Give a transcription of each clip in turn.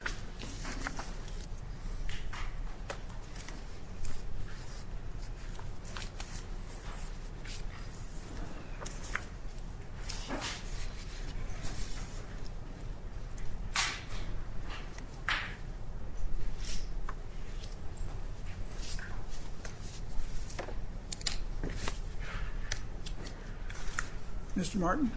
will now begin recording.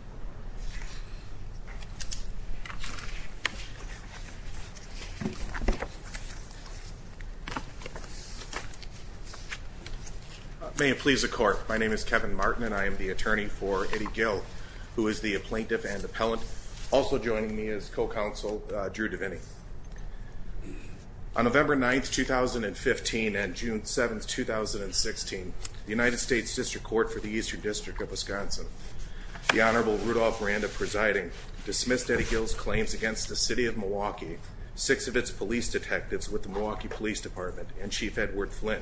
May it please the court, my name is Kevin Martin and I am the attorney for Eddie Gill who is the plaintiff and appellant. Also joining me is co-counsel Drew Deviney. On November 9th, 2015 and June 7th, 2016, the United States District Court for the Eastern the City of Milwaukee, six of its police detectives with the Milwaukee Police Department and Chief Edward Flynn,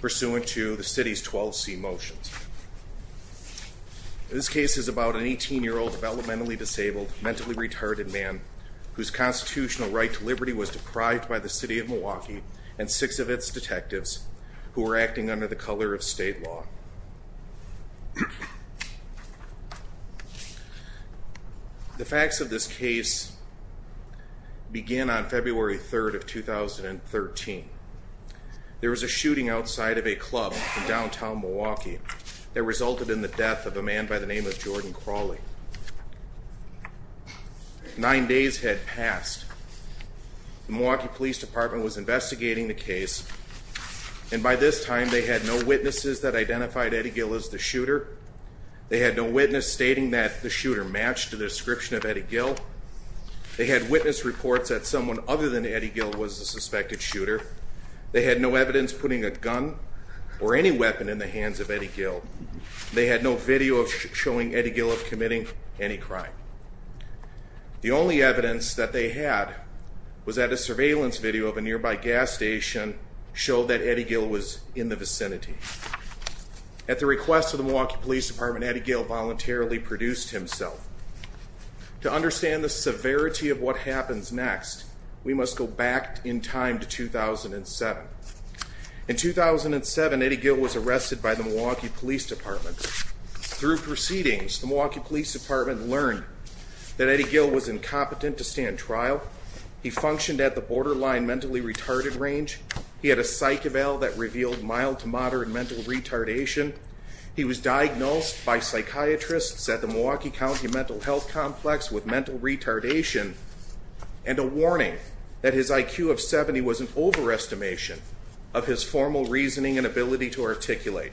pursuant to the City's 12C motions. This case is about an 18-year-old developmentally disabled, mentally retarded man whose constitutional right to liberty was deprived by the City of Milwaukee and six of its detectives who were acting under the color of state law. The facts of this case begin on February 3rd of 2013. There was a shooting outside of a club in downtown Milwaukee that resulted in the death of a man by the name of Jordan Crawley. Nine days had passed. The Milwaukee Police Department was investigating the case and by this time they had no witnesses that identified Eddie Gill as the shooter. They had no witness stating that the shooter matched the description of Eddie Gill. They had witness reports that someone other than Eddie Gill was the suspected shooter. They had no evidence putting a gun or any weapon in the hands of Eddie Gill. They had no video showing Eddie Gill of committing any crime. The only evidence that they had was that a surveillance video of a nearby gas station showed that Eddie Gill was in the vicinity. At the request of the Milwaukee Police Department, Eddie Gill voluntarily produced himself. To understand the severity of what happens next, we must go back in time to 2007. In 2007, Eddie Gill was arrested by the Milwaukee Police Department. Through proceedings, the Milwaukee Police Department learned that Eddie Gill was incompetent to stand trial. He functioned at the borderline mentally retarded range. He had a psych eval that revealed mild to moderate mental retardation. He was diagnosed by psychiatrists at the Milwaukee County Mental Health Complex with mental retardation and a warning that his IQ of 70 was an overestimation of his formal reasoning and ability to articulate.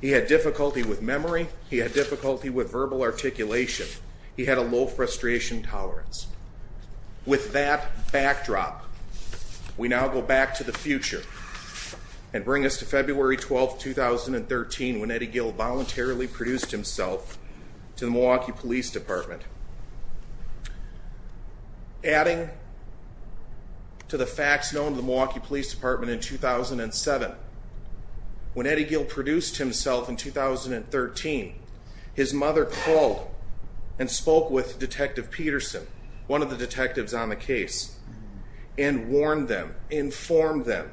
He had difficulty with memory. He had difficulty with verbal articulation. He had a low frustration tolerance. With that backdrop, we now go back to the future and bring us to February 12, 2013 when Eddie Gill voluntarily produced himself to the Milwaukee Police Department. Adding to the facts known to the Milwaukee Police Department in 2007, when Eddie Gill produced himself in 2013, his mother called and spoke with Detective Peterson, one of the detectives on the case, and warned them, informed them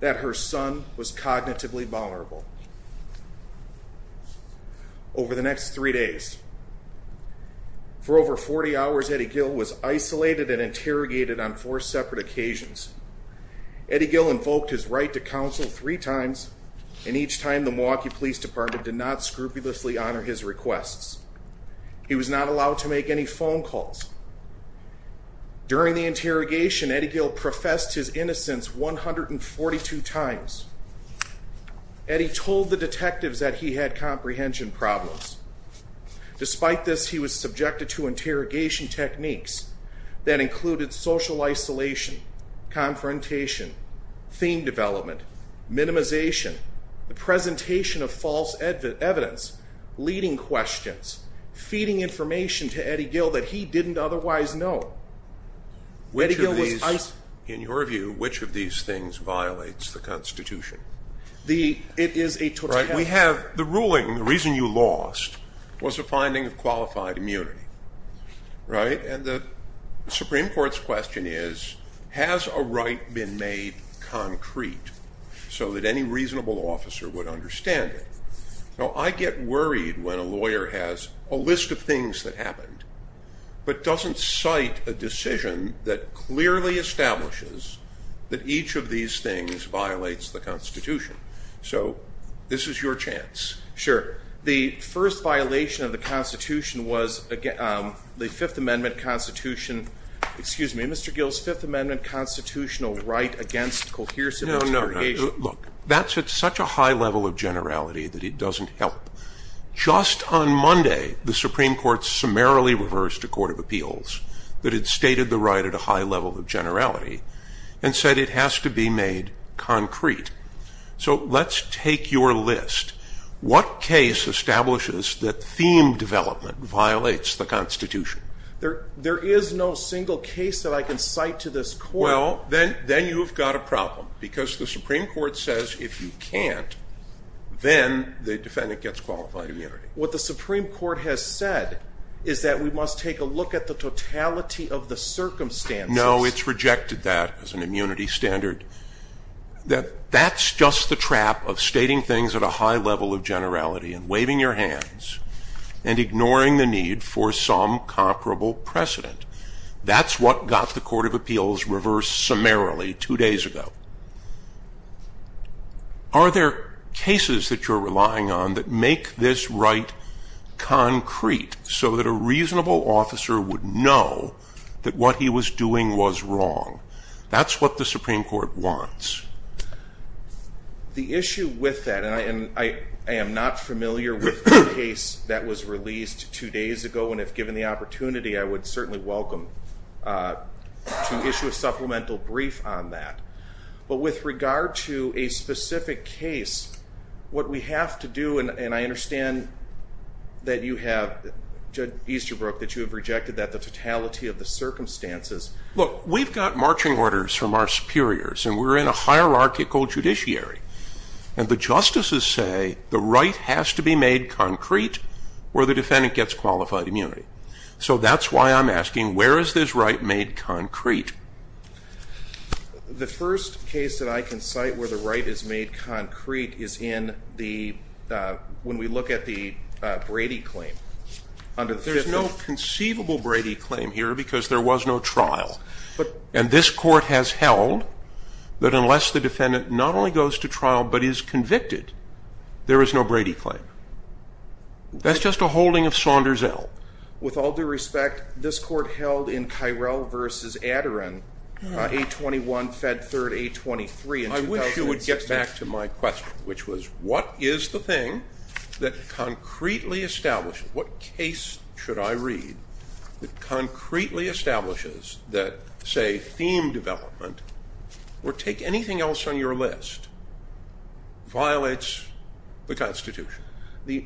that her son was cognitively vulnerable. Over the next three days, for over 40 hours, Eddie Gill was isolated and interrogated on four separate occasions. Eddie Gill invoked his right to counsel three times, and each time the Milwaukee Police Department did not scrupulously honor his requests. He was not allowed to make any phone calls. During the interrogation, Eddie Gill professed his innocence 142 times. Eddie told the detectives that he had comprehension problems. Despite this, he was subjected to interrogation techniques that included social isolation, confrontation, theme development, minimization, the presentation of false evidence, leading questions, feeding information to Eddie Gill that he didn't otherwise know. Which of these, in your view, which of these things violates the Constitution? The, it is a, we have, the ruling, the reason you lost was a finding of qualified immunity. Right? And the Supreme Court's question is, has a right been made concrete so that any reasonable officer would understand it? Now, I get worried when a lawyer has a list of things that happened, but doesn't cite a decision that clearly establishes that each of these things violates the Constitution. So this is your chance. Sure. The first violation of the Constitution was the Fifth Amendment Constitution, excuse me, Mr. Gill's Fifth Amendment constitutional right against coherence in interrogation. No, no, no. Look, that's at such a high level of generality that it doesn't help. Just on Monday, the Supreme Court summarily reversed a court of appeals that had stated the right at a high level of generality and said it has to be made concrete. So let's take your list. What case establishes that theme development violates the Constitution? There is no single case that I can cite to this court. Well, then, then you've got a problem because the Supreme Court says if you can't, then the defendant gets qualified immunity. What the Supreme Court has said is that we must take a look at the totality of the circumstances. No, it's rejected that as an immunity standard. That's just the trap of stating things at a high level of generality and waving your hands and ignoring the need for some comparable precedent. That's what got the court of appeals reversed summarily two days ago. Are there cases that you're relying on that make this right concrete so that a reasonable officer would know that what he was doing was wrong? That's what the Supreme Court wants. The issue with that, and I am not familiar with the case that was released two days ago, and if given the opportunity, I would certainly welcome to issue a supplemental brief on that. But with regard to a specific case, what we have to do, and I understand that you have, Judge Easterbrook, that you have rejected that, the totality of the circumstances. Look, we've got marching orders from our superiors, and we're in a hierarchical judiciary, and the justices say the right has to be made concrete where the defendant gets qualified immunity. So that's why I'm asking, where is this right made concrete? The first case that I can cite where the right is made concrete is in the, when we look at the Brady claim, under the fifth- There's no conceivable Brady claim here because there was no trial. But- And this court has held that unless the defendant not only goes to trial but is convicted, there is no Brady claim. That's just a holding of Saunders-El. With all due respect, this court held in Kyrell versus Adderin, 821 Fed 3rd, 823- I wish you would get back to my question, which was, what is the thing that concretely establishes, what case should I read that concretely establishes that, say, theme development, or take anything else on your list, violates the Constitution? The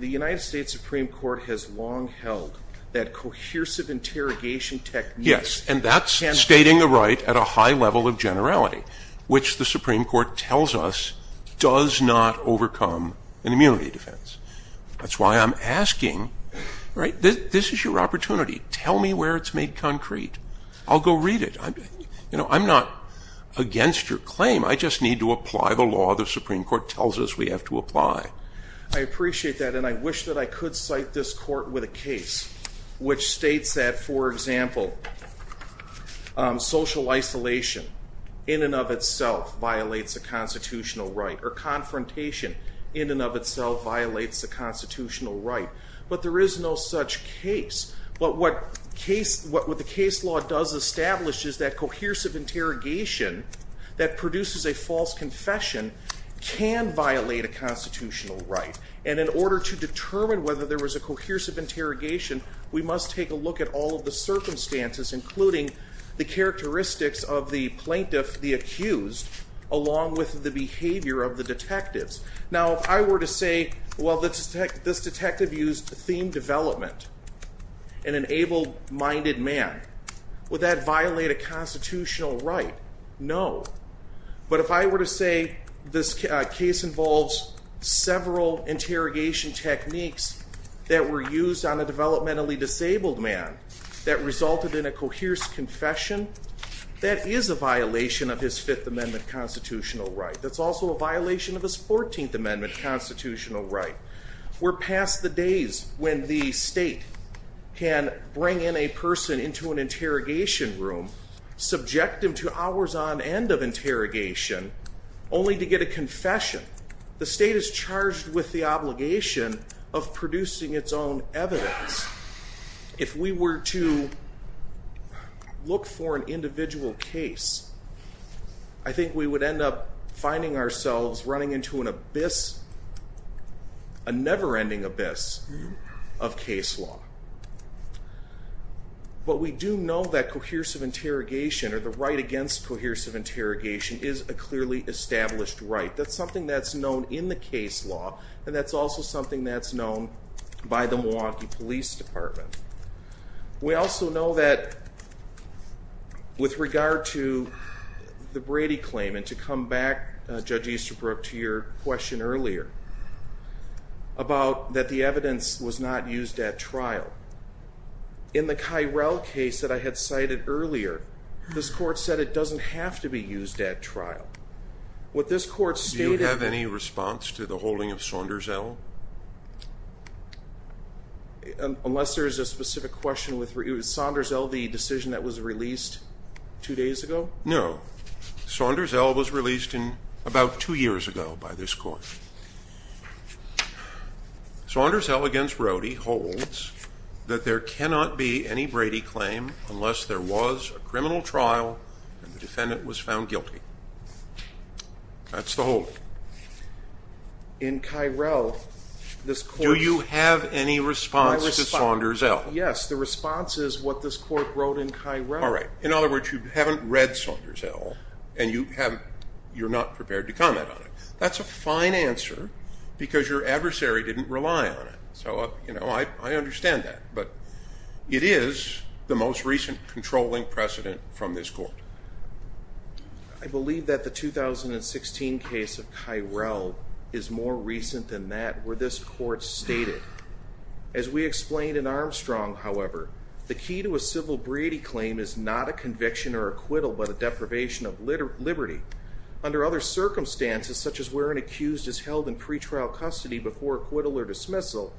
United States Supreme Court has long held that cohesive interrogation technique- Yes, and that's stating the right at a high level of generality, which the Supreme Court tells us does not overcome an immunity defense. That's why I'm asking, right, this is your opportunity. Tell me where it's made concrete. I'll go read it. I'm not against your claim. I just need to apply the law the Supreme Court tells us we have to apply. I appreciate that, and I wish that I could cite this court with a case which states that, for example, social isolation in and of itself violates the constitutional right, or confrontation in and of itself violates the constitutional right. But there is no such case. But what the case law does establish is that cohesive interrogation that produces a false confession can violate a constitutional right. And in order to determine whether there was a cohesive interrogation, we must take a look at all of the circumstances, including the characteristics of the plaintiff, the accused, along with the behavior of the detectives. Now, if I were to say, well, this detective used theme development and an able-minded man, would that violate a constitutional right? No, but if I were to say this case involves several interrogation techniques that were used on a developmentally disabled man that resulted in a coherent confession, that is a violation of his Fifth Amendment constitutional right. That's also a violation of his 14th Amendment constitutional right. We're past the days when the state can bring in a person into an interrogation room, subject him to hours on end of interrogation, only to get a confession. The state is charged with the obligation of producing its own evidence. If we were to look for an individual case, I think we would end up finding ourselves running into an abyss, a never-ending abyss of case law. But we do know that cohesive interrogation, or the right against cohesive interrogation, is a clearly established right. That's something that's known in the case law, and that's also something that's known by the Milwaukee Police Department. We also know that, with regard to the Brady claim, and to come back, Judge Easterbrook, to your question earlier, about that the evidence was not used at trial. In the Kyrell case that I had cited earlier, this court said it doesn't have to be used at trial. What this court stated- Do you have any response to the holding of Saunders-Ell? Unless there's a specific question with, was Saunders-Ell the decision that was released two days ago? No. Saunders-Ell was released about two years ago by this court. Saunders-Ell against Rody holds that there cannot be any Brady claim unless there was a criminal trial and the defendant was found guilty. That's the hold. In Kyrell, this court- Do you have any response to Saunders-Ell? Yes, the response is what this court wrote in Kyrell. All right, in other words, you haven't read Saunders-Ell, and you're not prepared to comment on it. That's a fine answer, because your adversary didn't rely on it. So I understand that, but it is the most recent controlling precedent from this court. I believe that the 2016 case of Kyrell is more recent than that, where this court stated, as we explained in Armstrong, however, the key to a civil Brady claim is not a conviction or acquittal, but a deprivation of liberty. Under other circumstances, such as where an accused is held in pretrial custody before acquittal or dismissal,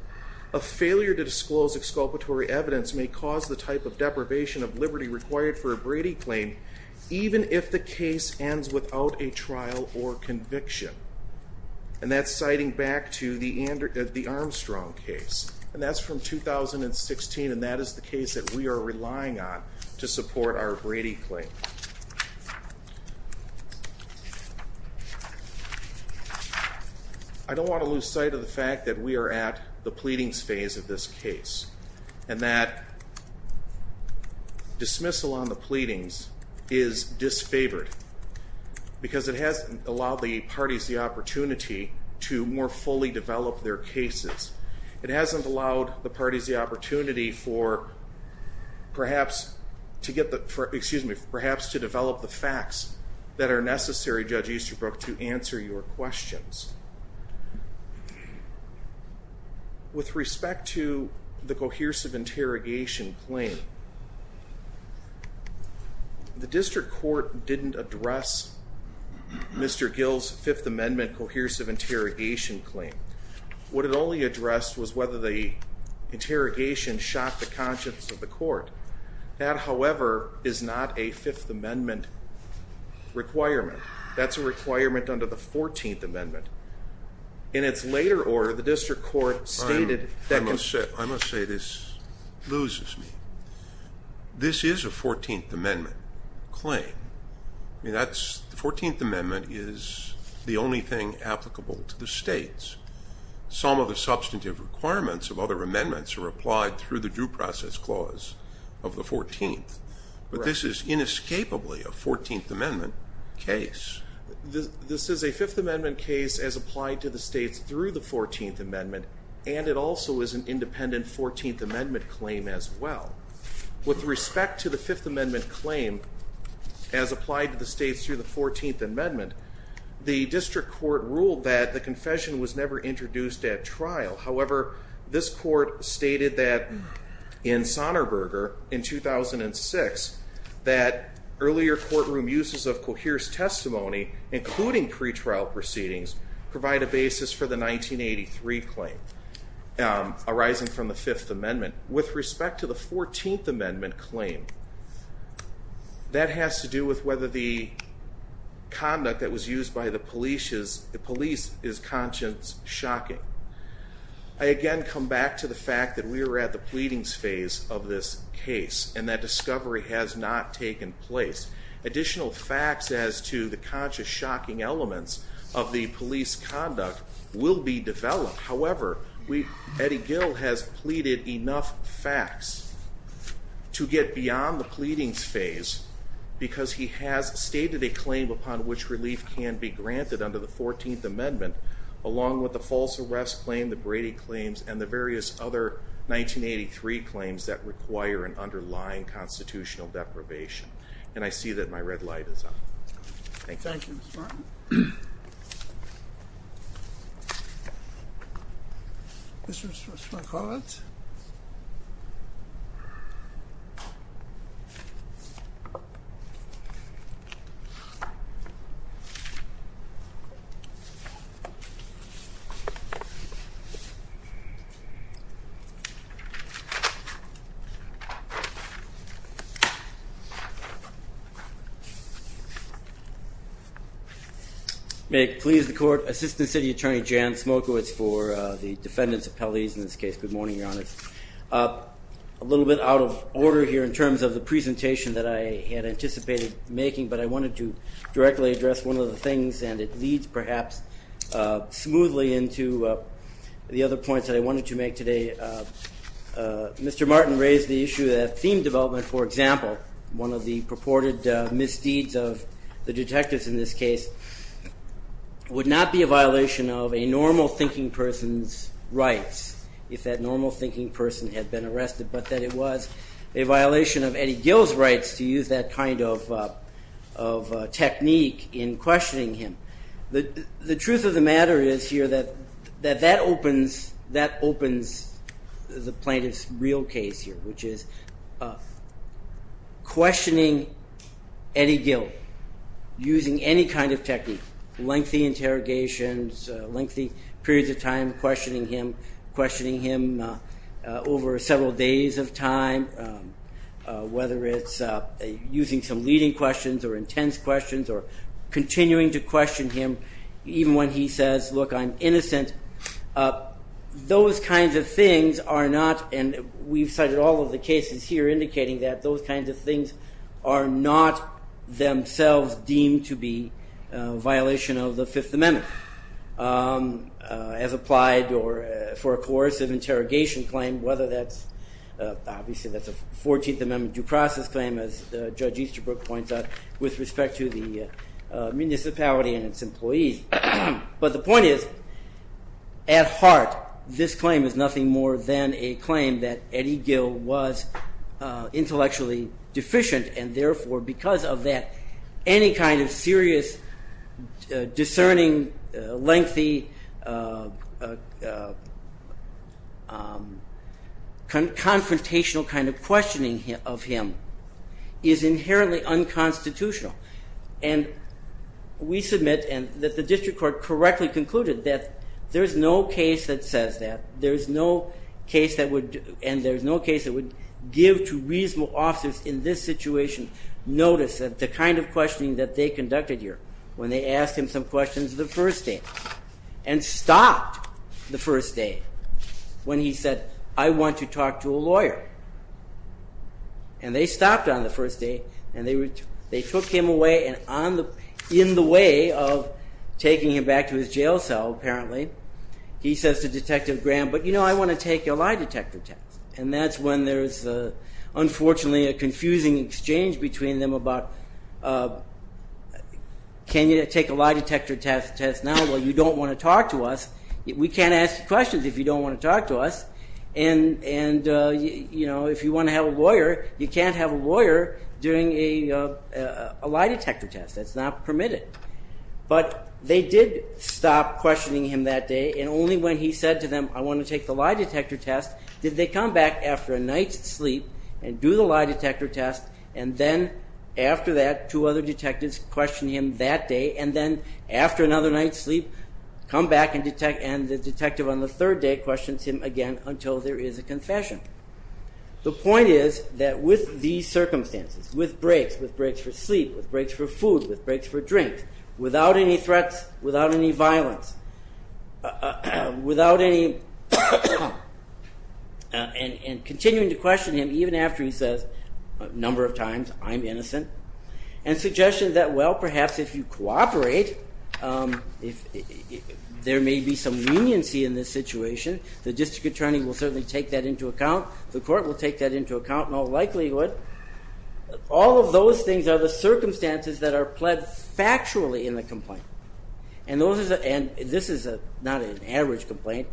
a failure to disclose exculpatory evidence may cause the type of deprivation of liberty required for a Brady claim, even if the case ends without a trial or conviction. And that's citing back to the Armstrong case. And that's from 2016, and that is the case that we are relying on to support our Brady claim. I don't want to lose sight of the fact that we are at the pleadings phase of this case, and that dismissal on the pleadings is disfavored, because it hasn't allowed the parties the opportunity to more fully develop their cases. It hasn't allowed the parties the opportunity for, perhaps, to get the, excuse me, perhaps to develop the facts that are necessary, Judge Easterbrook, to answer your questions. With respect to the cohesive interrogation claim, the district court didn't address Mr. Gill's Fifth Amendment cohesive interrogation claim. What it only addressed was whether the interrogation shot the conscience of the court. That, however, is not a Fifth Amendment requirement. That's a requirement under the 14th Amendment. In its later order, the district court stated that- I must say this loses me. This is a 14th Amendment claim. I mean, that's, the 14th Amendment is the only thing applicable to the states. Some of the substantive requirements of other amendments are applied through the due process clause of the 14th. But this is inescapably a 14th Amendment case. This is a Fifth Amendment case as applied to the states through the 14th Amendment, and it also is an independent 14th Amendment claim as well. With respect to the Fifth Amendment claim, as applied to the states through the 14th Amendment, the district court ruled that the confession was never introduced at trial. However, this court stated that in Sonneberger in 2006, that earlier courtroom uses of coherence testimony, including pretrial proceedings, provide a basis for the 1983 claim, arising from the Fifth Amendment. With respect to the 14th Amendment claim, that has to do with whether the conduct that was used by the police is, the police is conscience shocking. I again come back to the fact that we are at the pleadings phase of this case, and that discovery has not taken place. Additional facts as to the conscious shocking elements of the police conduct will be developed. However, Eddie Gill has pleaded enough facts to get beyond the pleadings phase, because he has stated a claim upon which relief can be granted under the 14th claim, the Brady claims, and the various other 1983 claims that require an underlying constitutional deprivation. And I see that my red light is on. Thank you. Thank you, Mr. Martin. Mr. Spankowitz. May it please the court. Assistant City Attorney Jan Smokowitz for the defendants' appellees. In this case, good morning, Your Honor. A little bit out of order here in terms of the presentation that I had anticipated making, but I wanted to directly address one of the things, and it leads perhaps smoothly into the other points that I wanted to make today. Mr. Martin raised the issue that theme development, for example, one of the purported misdeeds of the detectives in this case, would not be a violation of a normal thinking person's rights if that normal thinking person had been arrested, but that it was a violation of Eddie Gill's rights to use that kind of technique in questioning him. The truth of the matter is here that that opens the plaintiff's real case here, which is questioning Eddie Gill using any kind of technique, lengthy interrogations, lengthy periods of time questioning him, questioning him over several days of time, whether it's using some leading questions or intense questions, or continuing to question him even when he says, look, I'm innocent, those kinds of things are not, and we've cited all of the cases here indicating that, those kinds of things are not themselves deemed to be a violation of the Fifth Amendment as applied for a coercive interrogation claim, whether that's, obviously that's a 14th Amendment due process claim as Judge Easterbrook points out, with respect to the municipality and its employees. But the point is, at heart, this claim is nothing more than a claim that Eddie Gill was intellectually deficient, and therefore because of that, any kind of serious, discerning, lengthy, confrontational kind of questioning of him is inherently unconstitutional. And we submit, and that the district court correctly concluded that there's no case that says that, there's no case that would, and there's no case that would give to reasonable officers in this situation notice that the kind of questioning that they conducted here, when they asked him some questions the first day, and stopped the first day, when he said, I want to talk to a lawyer. And they stopped on the first day, and they took him away, and in the way of taking him back to his jail cell, apparently, he says to Detective Graham, but you know, I want to take a lie detector test. And that's when there's, unfortunately, a confusing exchange between them about, can you take a lie detector test now while you don't want to talk to us? We can't ask you questions if you don't want to talk to us. And you know, if you want to have a lawyer, you can't have a lawyer doing a lie detector test. That's not permitted. But they did stop questioning him that day, and only when he said to them, I want to take the lie detector test, did they come back after a night's sleep and do the lie detector test. And then after that, two other detectives questioned him that day. And then after another night's sleep, come back and the detective on the third day questions him again until there is a confession. The point is that with these circumstances, with breaks, with breaks for sleep, with breaks for food, with breaks for drinks, without any threats, without any violence, without any, and continuing to question him even after he says a number of times, I'm innocent, and suggestion that well, perhaps if you cooperate, there may be some leniency in this situation. The district attorney will certainly take that into account. The court will take that into account in all likelihood. All of those things are the circumstances that are pled factually in the complaint. And this is not an average complaint.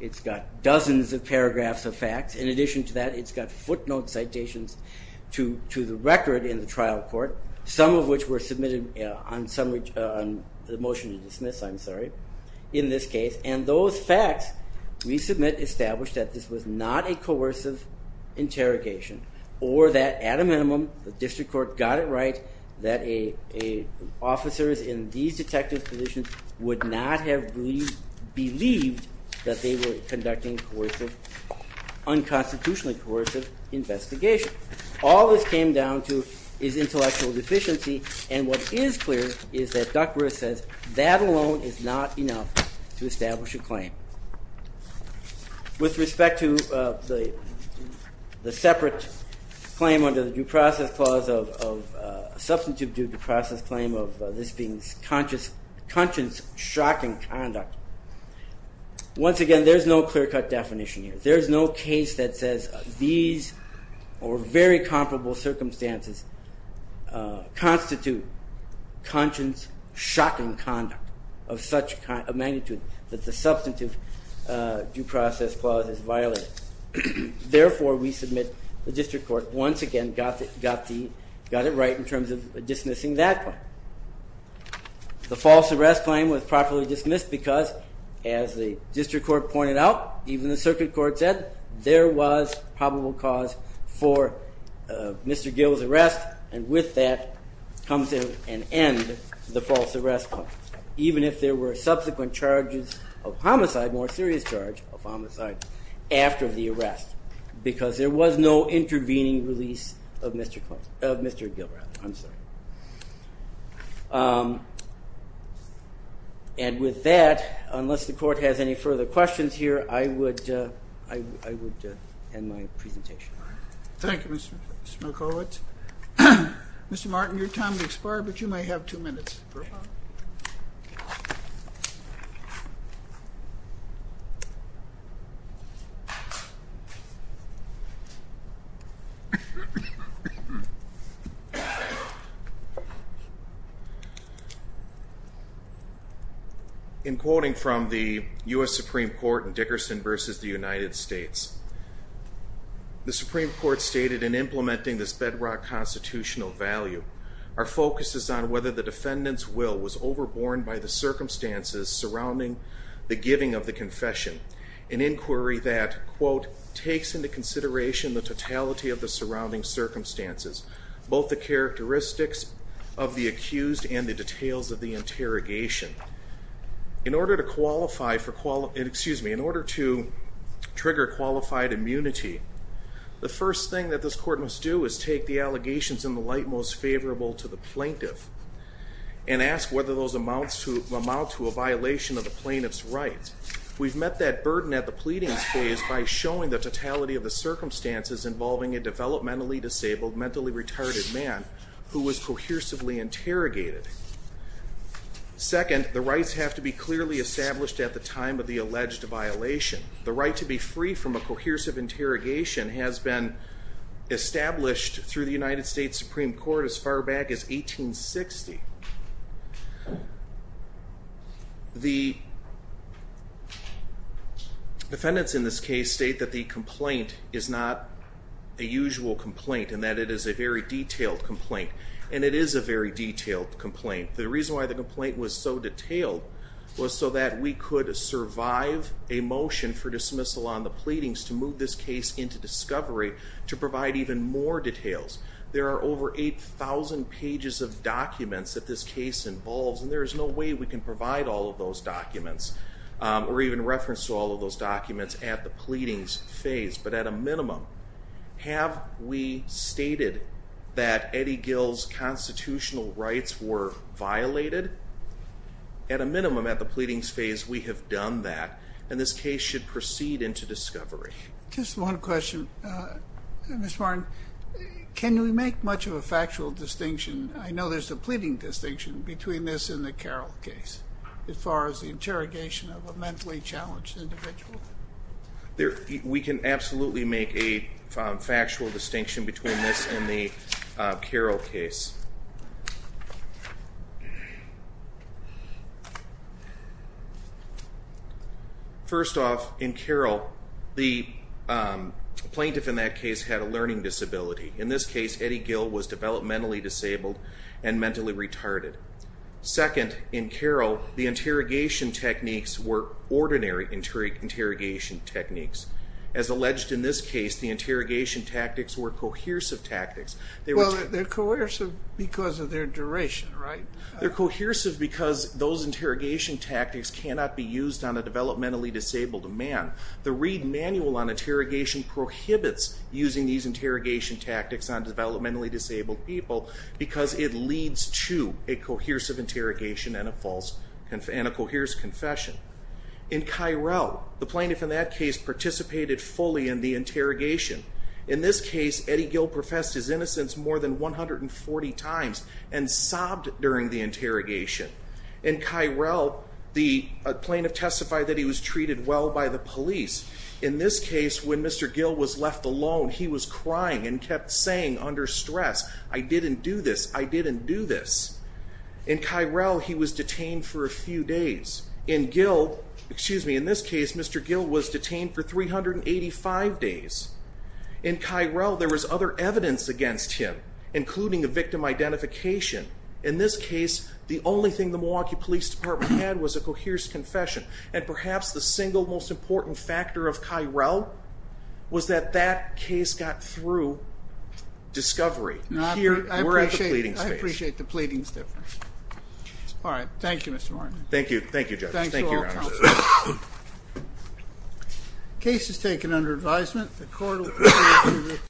It's got dozens of paragraphs of facts. In addition to that, it's got footnote citations to the record in the trial court, some of which were submitted on the motion to dismiss, I'm sorry, in this case. And those facts we submit establish that this was not a coercive interrogation or that at a minimum, the district court got it right that officers in these detective positions would not have believed that they were conducting a coercive, unconstitutionally coercive investigation. All this came down to is intellectual deficiency. And what is clear is that Duckworth says that alone is not enough to establish a claim. With respect to the separate claim under the due process clause of substantive due process claim of this being conscience shocking conduct. Once again, there's no clear cut definition here. There's no case that says these or very comparable circumstances constitute conscience shocking conduct of such a magnitude that the substantive due process clause is violated. Therefore, we submit the district court once again got it right in terms of dismissing that claim. The false arrest claim was properly dismissed because as the district court pointed out, even the circuit court said, there was probable cause for Mr. Gill's arrest. And with that comes an end to the false arrest claim. Even if there were subsequent charges of homicide, more serious charge of homicide after the arrest. Because there was no intervening release of Mr. Gill. I'm sorry. And with that, unless the court has any further questions here, I would end my presentation. Thank you, Mr. Milkovich. Mr. Martin, your time has expired, but you may have two minutes. Thank you. In quoting from the US Supreme Court in Dickerson versus the United States, the Supreme Court stated in implementing this bedrock constitutional value, our focus is on whether the defendant's will was overborne by the circumstances surrounding the giving of the confession. An inquiry that, quote, takes into consideration the totality of the surrounding circumstances, both the characteristics of the accused and the details of the interrogation. In order to qualify for, excuse me, in order to trigger qualified immunity, the first thing that this court must do is take the allegations in the light most favorable to the plaintiff and ask whether those amount to a violation of the plaintiff's rights. We've met that burden at the pleadings phase by showing the totality of the circumstances involving a developmentally disabled, mentally retarded man who was cohesively interrogated. Second, the rights have to be clearly established at the time of the alleged violation. The right to be free from a cohesive interrogation has been established through the United States Supreme Court as far back as 1860. The defendants in this case state that the complaint is not a usual complaint and that it is a very detailed complaint. And it is a very detailed complaint. The reason why the complaint was so detailed was so that we could survive a motion for dismissal on the pleadings to move this case into discovery to provide even more details. There are over 8,000 pages of documents that this case involves. And there is no way we can provide all of those documents or even reference to all of those documents at the pleadings phase. But at a minimum, have we stated that Eddie Gill's constitutional rights were violated? At a minimum, at the pleadings phase, we have done that. And this case should proceed into discovery. Just one question, Mr. Martin. Can we make much of a factual distinction? I know there's a pleading distinction between this and the Carroll case as far as the interrogation of a mentally challenged individual. We can absolutely make a factual distinction between this and the Carroll case. First off, in Carroll, the plaintiff in that case had a learning disability. In this case, Eddie Gill was developmentally disabled and mentally retarded. Second, in Carroll, the interrogation techniques were ordinary interrogation techniques. As alleged in this case, the interrogation tactics were cohesive tactics. Well, they're cohesive because of their duration, right? They're cohesive because those interrogation tactics cannot be used on a developmentally disabled man. The Reed Manual on Interrogation prohibits using these interrogation tactics on developmentally disabled people because it leads to a cohesive interrogation and a coheres confession. In Cairo, the plaintiff in that case participated fully in the interrogation. In this case, Eddie Gill professed his innocence more than 140 times and sobbed during the interrogation. In Cairo, the plaintiff testified that he was treated well by the police. In this case, when Mr. Gill was left alone, he was crying and kept saying under stress, I didn't do this. I didn't do this. In Cairo, he was detained for a few days. In Gill, excuse me, in this case, Mr. Gill was detained for 385 days. In Cairo, there was other evidence against him, including a victim identification. In this case, the only thing the Milwaukee Police Department had was a coheres confession. And perhaps the single most important factor of Cairo was that that case got through discovery. We're at the pleading space. I appreciate the pleadings difference. All right, thank you, Mr. Martin. Thank you. Thank you, judges. Thank you, your honor. Thanks to all counsel. Case is taken under advisement. The court will proceed with.